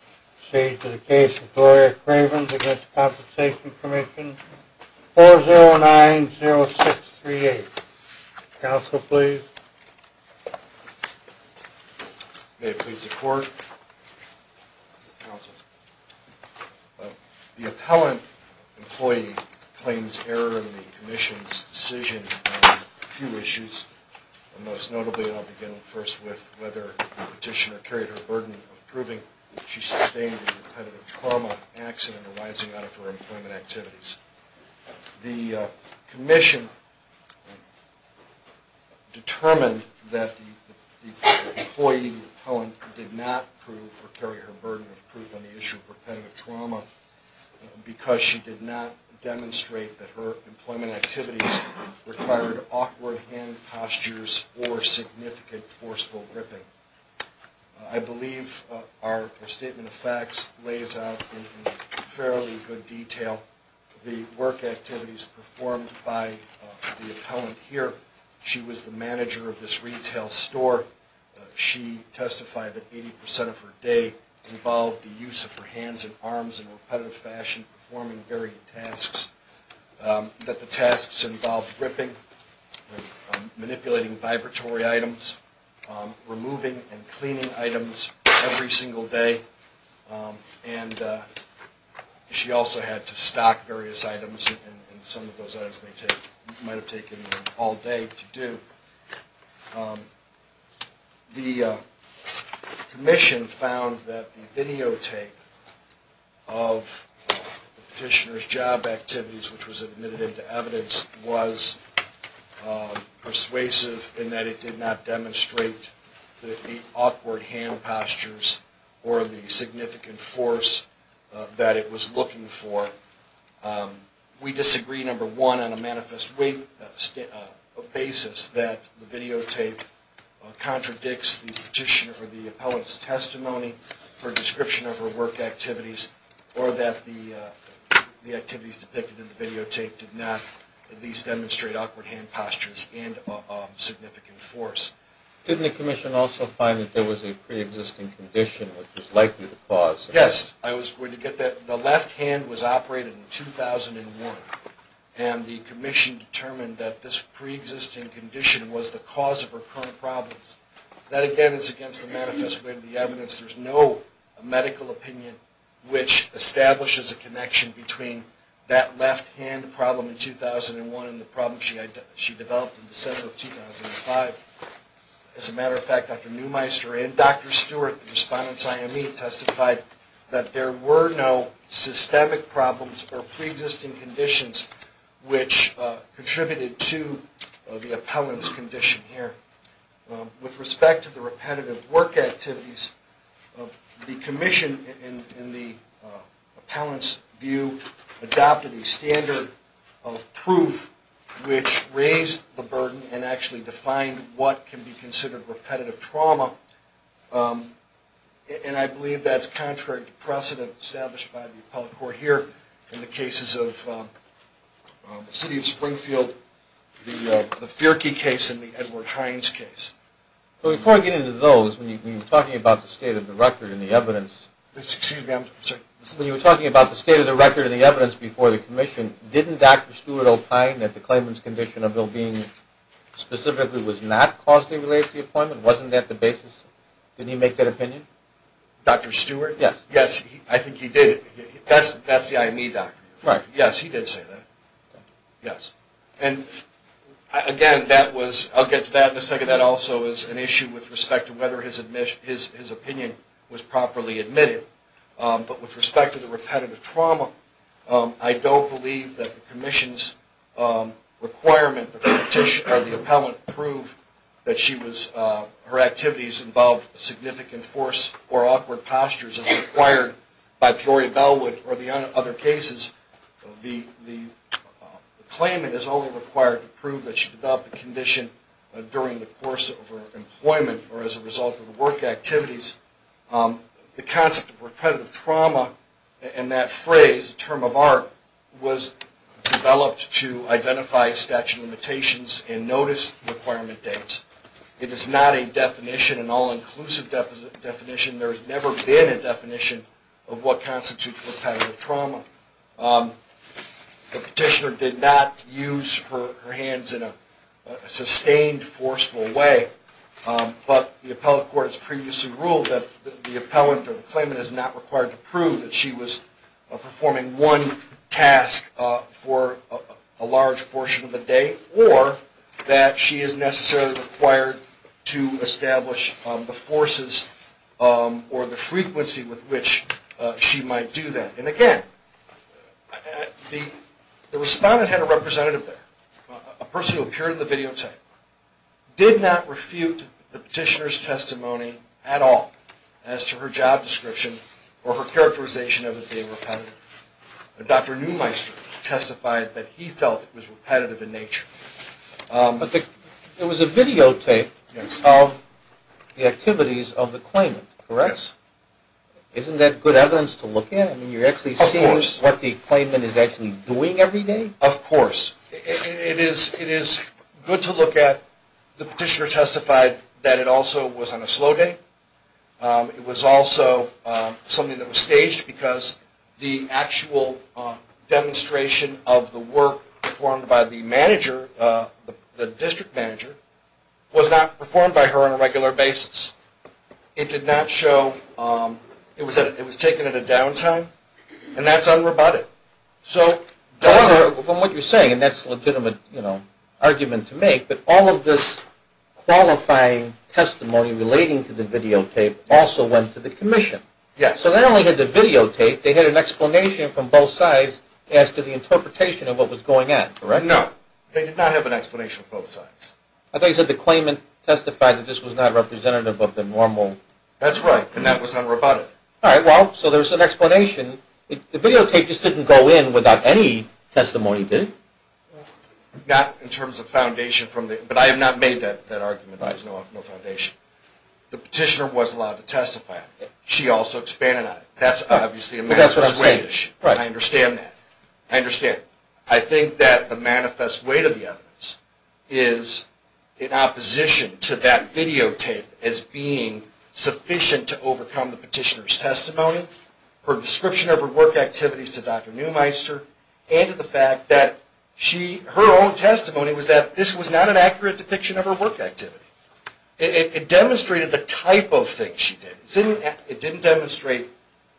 I proceed to the case of Gloria Cravens v. Workers' Compensation Comm'n, 4090638. Counsel, please. May it please the Court. The appellant employee claims error in the Commission's decision on a few issues, and most notably, and I'll begin first with whether the petitioner carried her burden of proving that she sustained a repetitive trauma accident arising out of her employment activities. The Commission determined that the employee, the appellant, did not carry her burden of proof on the issue of repetitive trauma because she did not demonstrate that her employment activities required awkward hand postures or significant forceful gripping. I believe our statement of facts lays out in fairly good detail the work activities performed by the appellant here. She was the manager of this retail store. She testified that 80 percent of her day involved the use of her hands and arms in a repetitive fashion, performing varied tasks, that the tasks involved gripping, manipulating vibratory items, removing and cleaning items every single day, and she also had to stock various items, and some of those items might have taken her all day to do. The Commission found that the videotape of the petitioner's job activities, which was admitted into evidence, was persuasive in that it did not demonstrate the awkward hand postures or the significant force that it was looking for. We disagree, number one, on a manifest basis that the videotape contradicts the petitioner or the appellant's testimony for a description of her work activities or that the activities depicted in the videotape did not at least demonstrate awkward hand postures and significant force. Didn't the Commission also find that there was a preexisting condition which was likely the cause? Yes, I was going to get that. The left hand was operated in 2001, and the Commission determined that this preexisting condition was the cause of her current problems. That, again, is against the manifest way of the evidence. There's no medical opinion which establishes a connection between that left hand problem in 2001 and the problem she developed in December of 2005. As a matter of fact, Dr. Neumeister and Dr. Stewart, the respondents' IME, testified that there were no systemic problems or preexisting conditions which contributed to the appellant's condition here. With respect to the repetitive work activities, the Commission, in the appellant's view, adopted a standard of proof which raised the burden and actually defined what can be considered repetitive trauma, and I believe that's contrary to precedent established by the appellate court here in the cases of the City of Springfield, the Feerke case, and the Edward Hines case. Before I get into those, when you were talking about the state of the record and the evidence before the Commission, didn't Dr. Stewart opine that the claimant's condition of well-being specifically was not caused to relate to the appointment? Wasn't that the basis? Did he make that opinion? Dr. Stewart? Yes. Yes, I think he did. That's the IME doctrine. Right. Yes, he did say that. Yes. And again, I'll get to that in a second. That also is an issue with respect to whether his opinion was properly admitted, but with respect to the repetitive trauma, I don't believe that the Commission's requirement that the appellant prove that her activities involved significant force or awkward postures as required by Peoria Bellwood or the other cases. The claimant is only required to prove that she developed the condition during the course of her employment or as a result of the work activities. The concept of repetitive trauma and that phrase, the term of art, was developed to identify statute of limitations and notice requirement dates. It is not a definition, an all-inclusive definition. There has never been a definition of what constitutes repetitive trauma. The petitioner did not use her hands in a sustained, forceful way, but the appellate court has previously ruled that the appellant or the claimant is not required to prove that she was performing one task for a large portion of the day or that she is necessarily required to establish the forces or the frequency with which she might do that. And again, the respondent had a representative there, a person who appeared in the videotape, did not refute the petitioner's testimony at all as to her job description or her characterization of it being repetitive. Dr. Neumeister testified that he felt it was repetitive in nature. There was a videotape of the activities of the claimant, correct? Yes. Isn't that good evidence to look at? Of course. You're actually seeing what the claimant is actually doing every day? Of course. It is good to look at. The petitioner testified that it also was on a slow day. It was also something that was staged because the actual demonstration of the work performed by the manager, the district manager, was not performed by her on a regular basis. It did not show, it was taken at a downtime, and that's unroboted. From what you're saying, and that's a legitimate argument to make, but all of this qualifying testimony relating to the videotape also went to the commission. Yes. So they only had the videotape. They had an explanation from both sides as to the interpretation of what was going on, correct? No. They did not have an explanation from both sides. I thought you said the claimant testified that this was not representative of the normal... That's right, and that was unroboted. All right, well, so there's an explanation. The videotape just didn't go in without any testimony, did it? Not in terms of foundation from the... But I have not made that argument. There's no foundation. The petitioner was allowed to testify on it. She also expanded on it. That's obviously a manifest way... But that's what I'm saying. I understand that. I understand. I think that the manifest way to the evidence is in opposition to that videotape as being sufficient to overcome the petitioner's testimony, her description of her work activities to Dr. Neumeister, and to the fact that her own testimony was that this was not an accurate depiction of her work activity. It demonstrated the type of things she did. It didn't demonstrate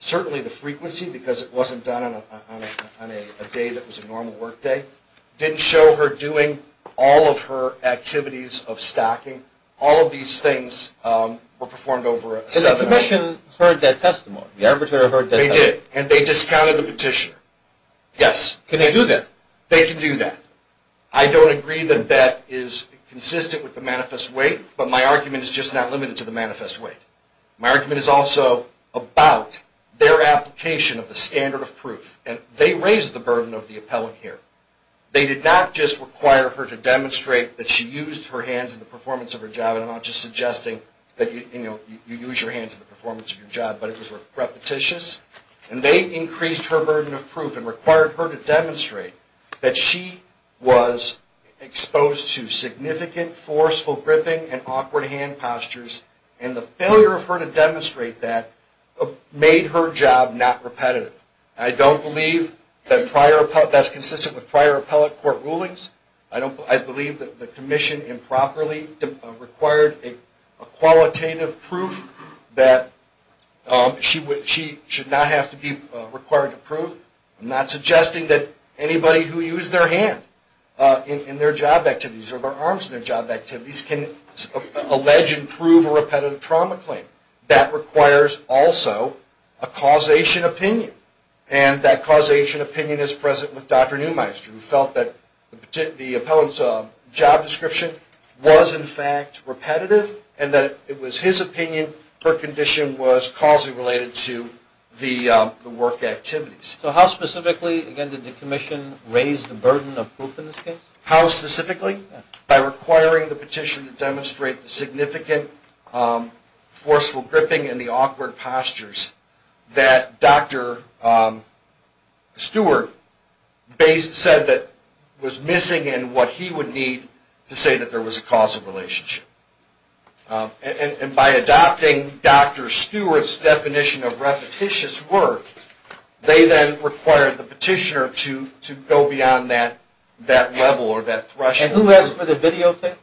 certainly the frequency because it wasn't done on a day that was a normal work day. It didn't show her doing all of her activities of stocking. All of these things were performed over a seven-hour period. But the commission heard that testimony. The arbitrator heard that testimony. They did, and they discounted the petitioner. Yes. Can they do that? They can do that. I don't agree that that is consistent with the manifest way, but my argument is just not limited to the manifest way. My argument is also about their application of the standard of proof. They raised the burden of the appellant here. They did not just require her to demonstrate that she used her hands in the performance of her job. I'm not just suggesting that you use your hands in the performance of your job, but it was repetitious. And they increased her burden of proof and required her to demonstrate that she was exposed to significant forceful gripping and awkward hand postures. And the failure of her to demonstrate that made her job not repetitive. I don't believe that's consistent with prior appellate court rulings. I believe that the commission improperly required a qualitative proof that she should not have to be required to prove. I'm not suggesting that anybody who used their hand in their job activities or their arms in their job activities can allege and prove a repetitive trauma claim. That requires also a causation opinion, and that causation opinion is present with Dr. Neumeister, who felt that the appellant's job description was in fact repetitive and that it was his opinion her condition was causally related to the work activities. So how specifically, again, did the commission raise the burden of proof in this case? How specifically? By requiring the petitioner to demonstrate the significant forceful gripping and the awkward postures that Dr. Stewart said that was missing in what he would need to say that there was a causal relationship. And by adopting Dr. Stewart's definition of repetitious work, they then required the petitioner to go beyond that level or that threshold. And who asked for the videotape?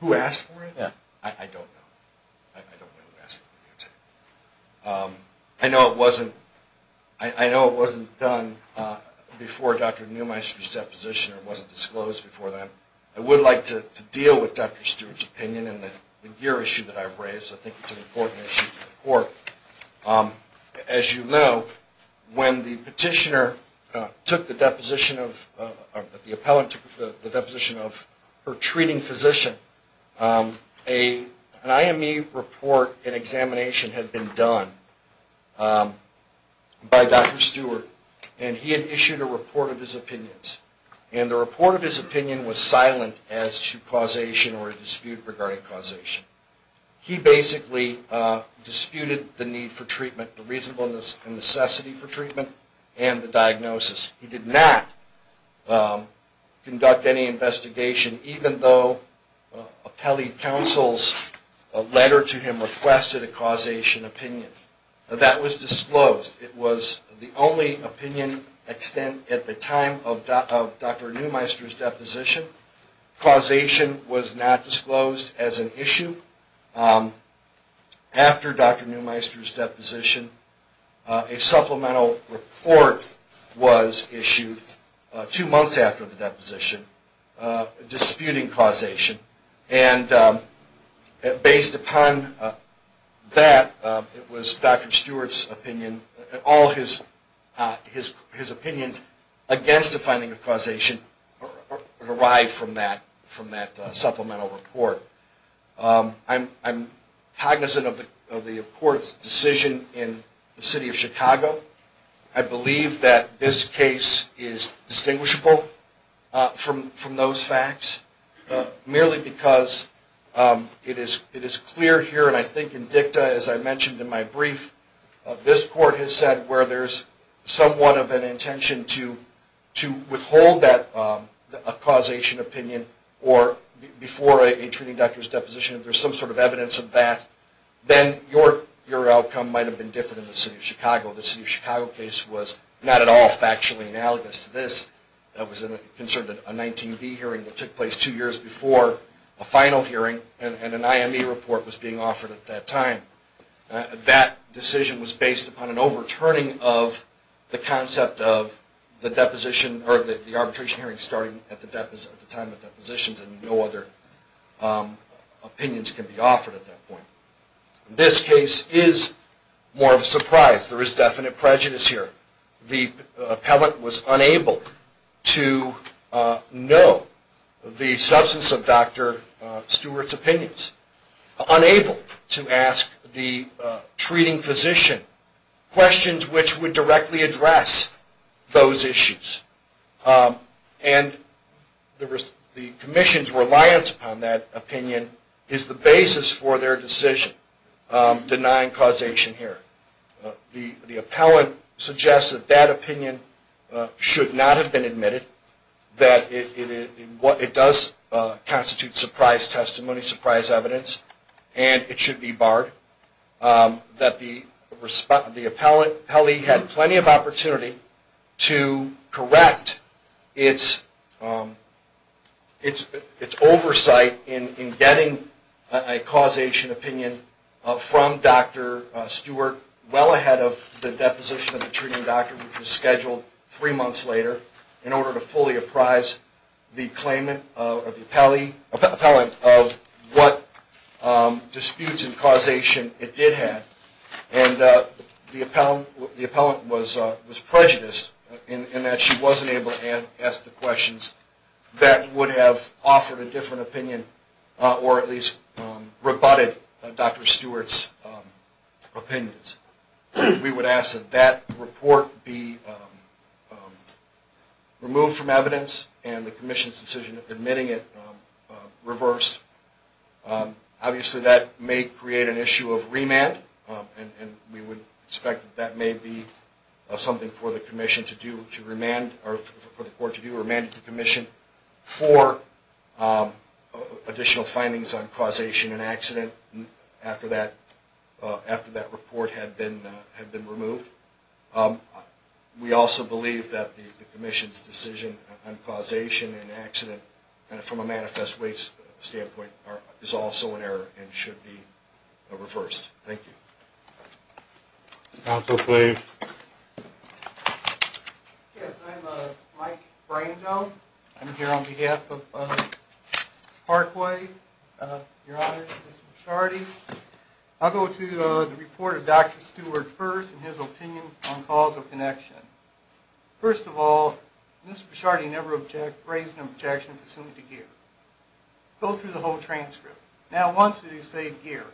Who asked for it? Yeah. I don't know. I don't know who asked for the videotape. I know it wasn't done before Dr. Neumeister's deposition or wasn't disclosed before that. I would like to deal with Dr. Stewart's opinion and the gear issue that I've raised. I think it's an important issue for the court. As you know, when the petitioner took the deposition of her treating physician, an IME report and examination had been done by Dr. Stewart and he had issued a report of his opinions. And the report of his opinion was silent as to causation or a dispute regarding causation. He basically disputed the need for treatment, the reasonableness and necessity for treatment and the diagnosis. He did not conduct any investigation, even though appellee counsel's letter to him requested a causation opinion. That was disclosed. It was the only opinion extent at the time of Dr. Neumeister's deposition. Causation was not disclosed as an issue. After Dr. Neumeister's deposition, a supplemental report was issued two months after the deposition disputing causation. And based upon that, it was Dr. Stewart's opinion, all his opinions against the finding of causation arrived from that supplemental report. I'm cognizant of the court's decision in the city of Chicago. I believe that this case is distinguishable from those facts. Merely because it is clear here, and I think in dicta, as I mentioned in my brief, this court has said where there's somewhat of an intention to withhold a causation opinion before a treating doctor's deposition. If there's some sort of evidence of that, then your outcome might have been different in the city of Chicago. The city of Chicago case was not at all factually analogous to this. That was concerned with a 19B hearing that took place two years before a final hearing, and an IME report was being offered at that time. That decision was based upon an overturning of the concept of the deposition or the arbitration hearing starting at the time of depositions, and no other opinions can be offered at that point. This case is more of a surprise. There is definite prejudice here. The appellant was unable to know the substance of Dr. Stewart's opinions, unable to ask the treating physician questions which would directly address those issues, and the commission's reliance upon that opinion is the basis for their decision denying causation hearing. The appellant suggests that that opinion should not have been admitted, that it does constitute surprise testimony, surprise evidence, and it should be barred, that the appellant had plenty of opportunity to correct its oversight in getting a causation opinion from Dr. Stewart well ahead of the deposition of the treating doctor, which was scheduled three months later, in order to fully apprise the claimant or the appellant of what disputes and causation it did have. And the appellant was prejudiced in that she wasn't able to ask the questions that would have offered a different opinion or at least rebutted Dr. Stewart's opinions. We would ask that that report be removed from evidence and the commission's decision of admitting it reversed. Obviously that may create an issue of remand and we would expect that that may be something for the commission to do to remand or for the court to do, remand the commission for additional findings on the accident after that report had been removed. We also believe that the commission's decision on causation and accident from a manifest waste standpoint is also an error and should be reversed. Thank you. Counsel, please. Yes, I'm Mike Brando. I'm here on behalf of Parkway. Your Honor, Mr. Bashardi. I'll go to the report of Dr. Stewart first and his opinion on causal connection. First of all, Mr. Bashardi never raised an objection pursuant to Geer. Go through the whole transcript. Now once did he say Geer?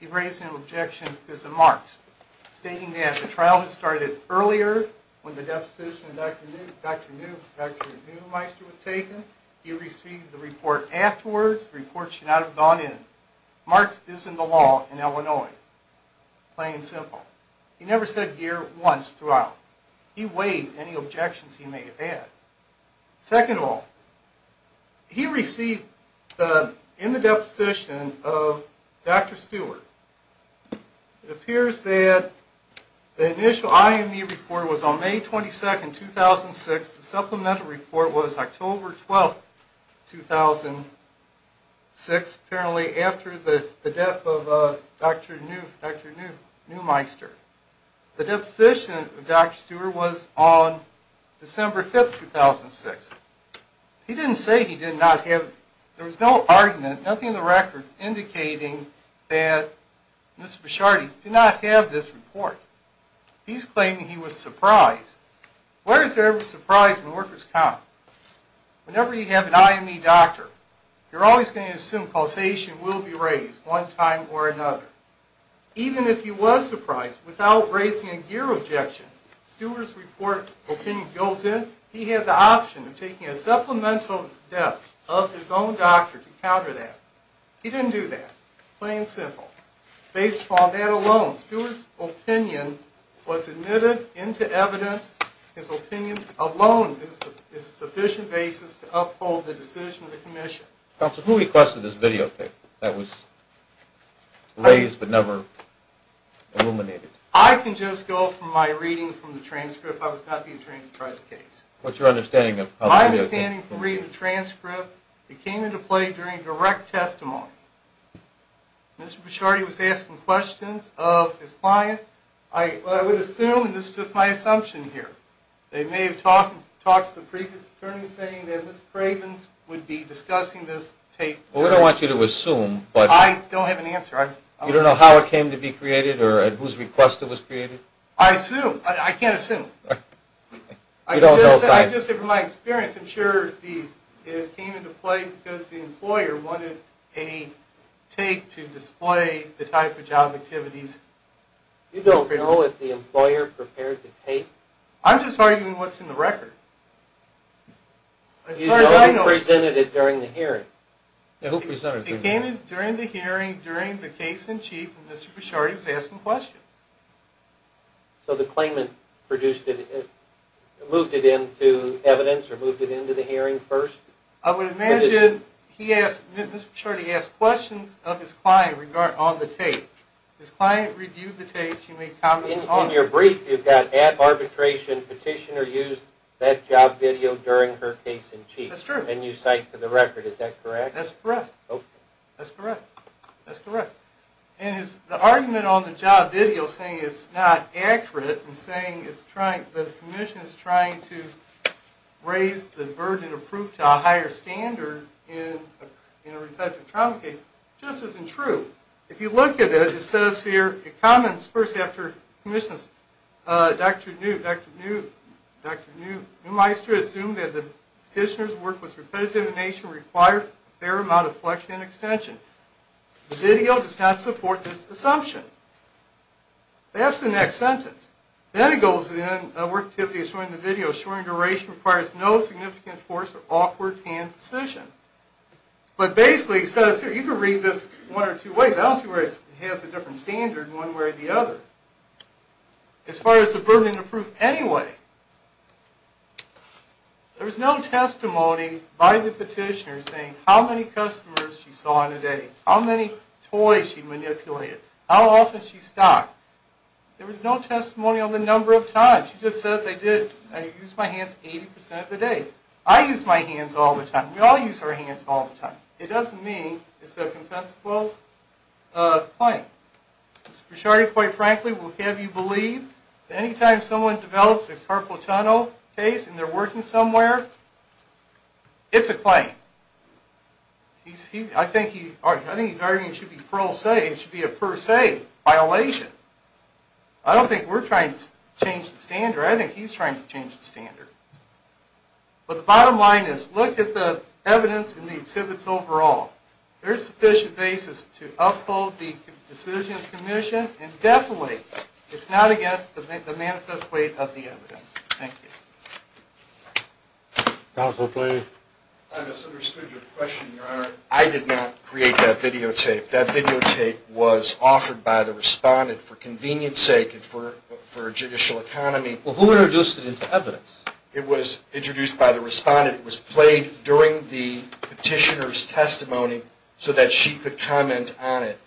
He raised an objection because of Marks stating that the trial had started earlier when the deposition of Dr. Neumeister was taken. He received the report afterwards. The report should not have gone in. Marks is in the law in Illinois, plain and simple. He never said Geer once throughout. He weighed any objections he may have had. Second of all, he received in the deposition of Dr. Stewart. It appears that the initial IME report was on May 22nd, 2006. The supplemental report was October 12th, 2006, apparently after the death of Dr. Neumeister. The deposition of Dr. Stewart was on December 5th, 2006. He didn't say he did not have. There was no argument, nothing in the records indicating that Mr. Bashardi did not have this report. He's claiming he was surprised. Where is there ever surprise in a worker's comment? Whenever you have an IME doctor, you're always going to assume causation will be raised one time or another. Even if he was surprised, without raising a Geer objection, Stewart's opinion goes in, he had the option of taking a supplemental death of his own doctor to counter that. He didn't do that, plain and simple. Based upon that alone, Stewart's opinion was admitted into evidence. the decision of the commission. Counsel, who requested this videotape that was raised but never illuminated? I can just go from my reading from the transcript. I was not the attorney in charge of the case. What's your understanding of how the video came through? My understanding from reading the transcript, it came into play during direct testimony. Mr. Bashardi was asking questions of his client. I would assume, and this is just my assumption here, they may have talked to the previous attorney saying that Mr. Craven would be discussing this tape. We don't want you to assume. I don't have an answer. You don't know how it came to be created or whose request it was created? I assume. I can't assume. You don't know. I'm just saying from my experience, I'm sure it came into play because the employer wanted a tape to display the type of job activities. You don't know if the employer prepared the tape? I'm just arguing what's in the record. As far as I know... He only presented it during the hearing. Who presented it? It came during the hearing during the case in chief and Mr. Bashardi was asking questions. So the claimant produced it, moved it into evidence or moved it into the hearing first? I would imagine he asked, Mr. Bashardi asked questions of his client on the tape. His client reviewed the tape. In your brief, you've got at arbitration, petitioner used that job video during her case in chief. That's true. And you cite to the record. Is that correct? That's correct. That's correct. That's correct. And the argument on the job video saying it's not accurate and saying the commission is trying to raise the burden of proof to a higher standard in a reflective trauma case just isn't true. If you look at it, it says here, it comments first Dr. Newmeister assumed that the petitioner's work was repetitive and required a fair amount of flexion and extension. The video does not support this assumption. That's the next sentence. Then it goes in, the work activity of showing the video showing duration requires no significant force or awkward hand position. But basically it says here, you can read this one or two ways. I don't see where it has a different standard one way or the other. As far as the burden of proof anyway, there was no testimony by the petitioner saying how many customers she saw in a day, how many toys she manipulated, how often she stopped. There was no testimony on the number of times. She just says I used my hands 80% of the day. I use my hands all the time. We all use our hands all the time. It doesn't mean it's a compensable claim. Mr. Brichardi, quite frankly, will have you believe that anytime someone develops a carpal tunnel case and they're working somewhere, it's a claim. I think he's arguing it should be a per se violation. I don't think we're trying to change the standard. I think he's trying to change the standard. But the bottom line is look at the evidence and the exhibits overall. There is sufficient basis to uphold the decision of the commission and definitely it's not against the manifest weight of the evidence. Thank you. Counsel, please. I misunderstood your question, Your Honor. I did not create that videotape. That videotape was offered by the respondent for convenience sake and for judicial economy. Who introduced it into evidence? It was introduced by the respondent. It was played during the petitioner's testimony so that she could comment on it.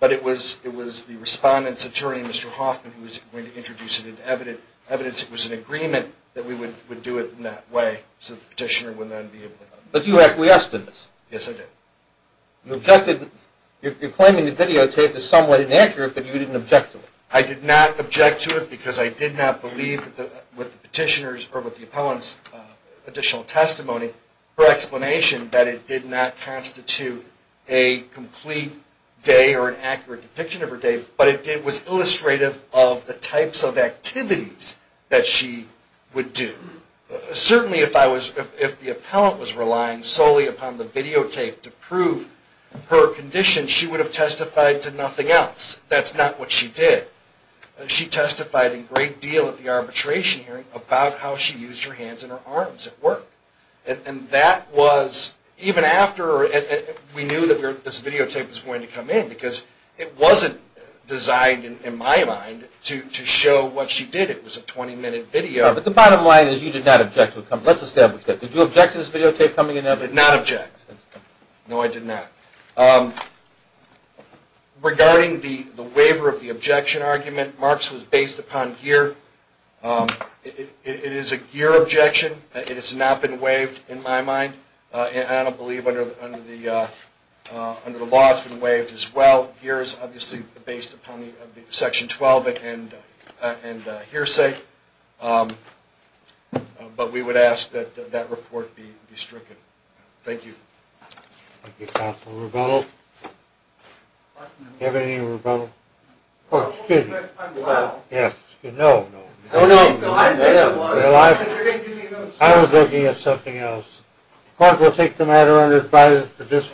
But it was the respondent's attorney, Mr. Hoffman, who was going to introduce it into evidence. It was an agreement that we would do it in that way so the petitioner would then be able to comment. But you acquiesced in this? Yes, I did. You objected. You're claiming the videotape is somewhat inaccurate but you didn't object to it. I did not object to it because I did not believe with the petitioner's or with the appellant's additional testimony or explanation that it did not constitute a complete day or an accurate depiction of her day. But it was illustrative of the types of activities that she would do. Certainly if the appellant was relying solely upon the videotape to prove her condition, she would have testified to nothing else. That's not what she did. She testified a great deal at the arbitration hearing about how she used her hands and her arms at work. And that was even after we knew that this videotape was going to come in because it wasn't designed in my mind to show what she did. It was a 20-minute video. But the bottom line is you did not object to it. Let's establish that. Did you object to this videotape coming in? I did not object. No, I did not. Regarding the waiver of the objection argument, Marks was based upon gear. It is a gear objection. It has not been waived in my mind. I don't believe under the law it's been waived as well. Gear is obviously based upon Section 12 and hearsay. But we would ask that that report be stricken. Thank you. Thank you, Counselor Rubato. Do you have anything, Rubato? Oh, excuse me. I'm well. Yes. No, no. I was looking at something else. The court will take the matter unadvised.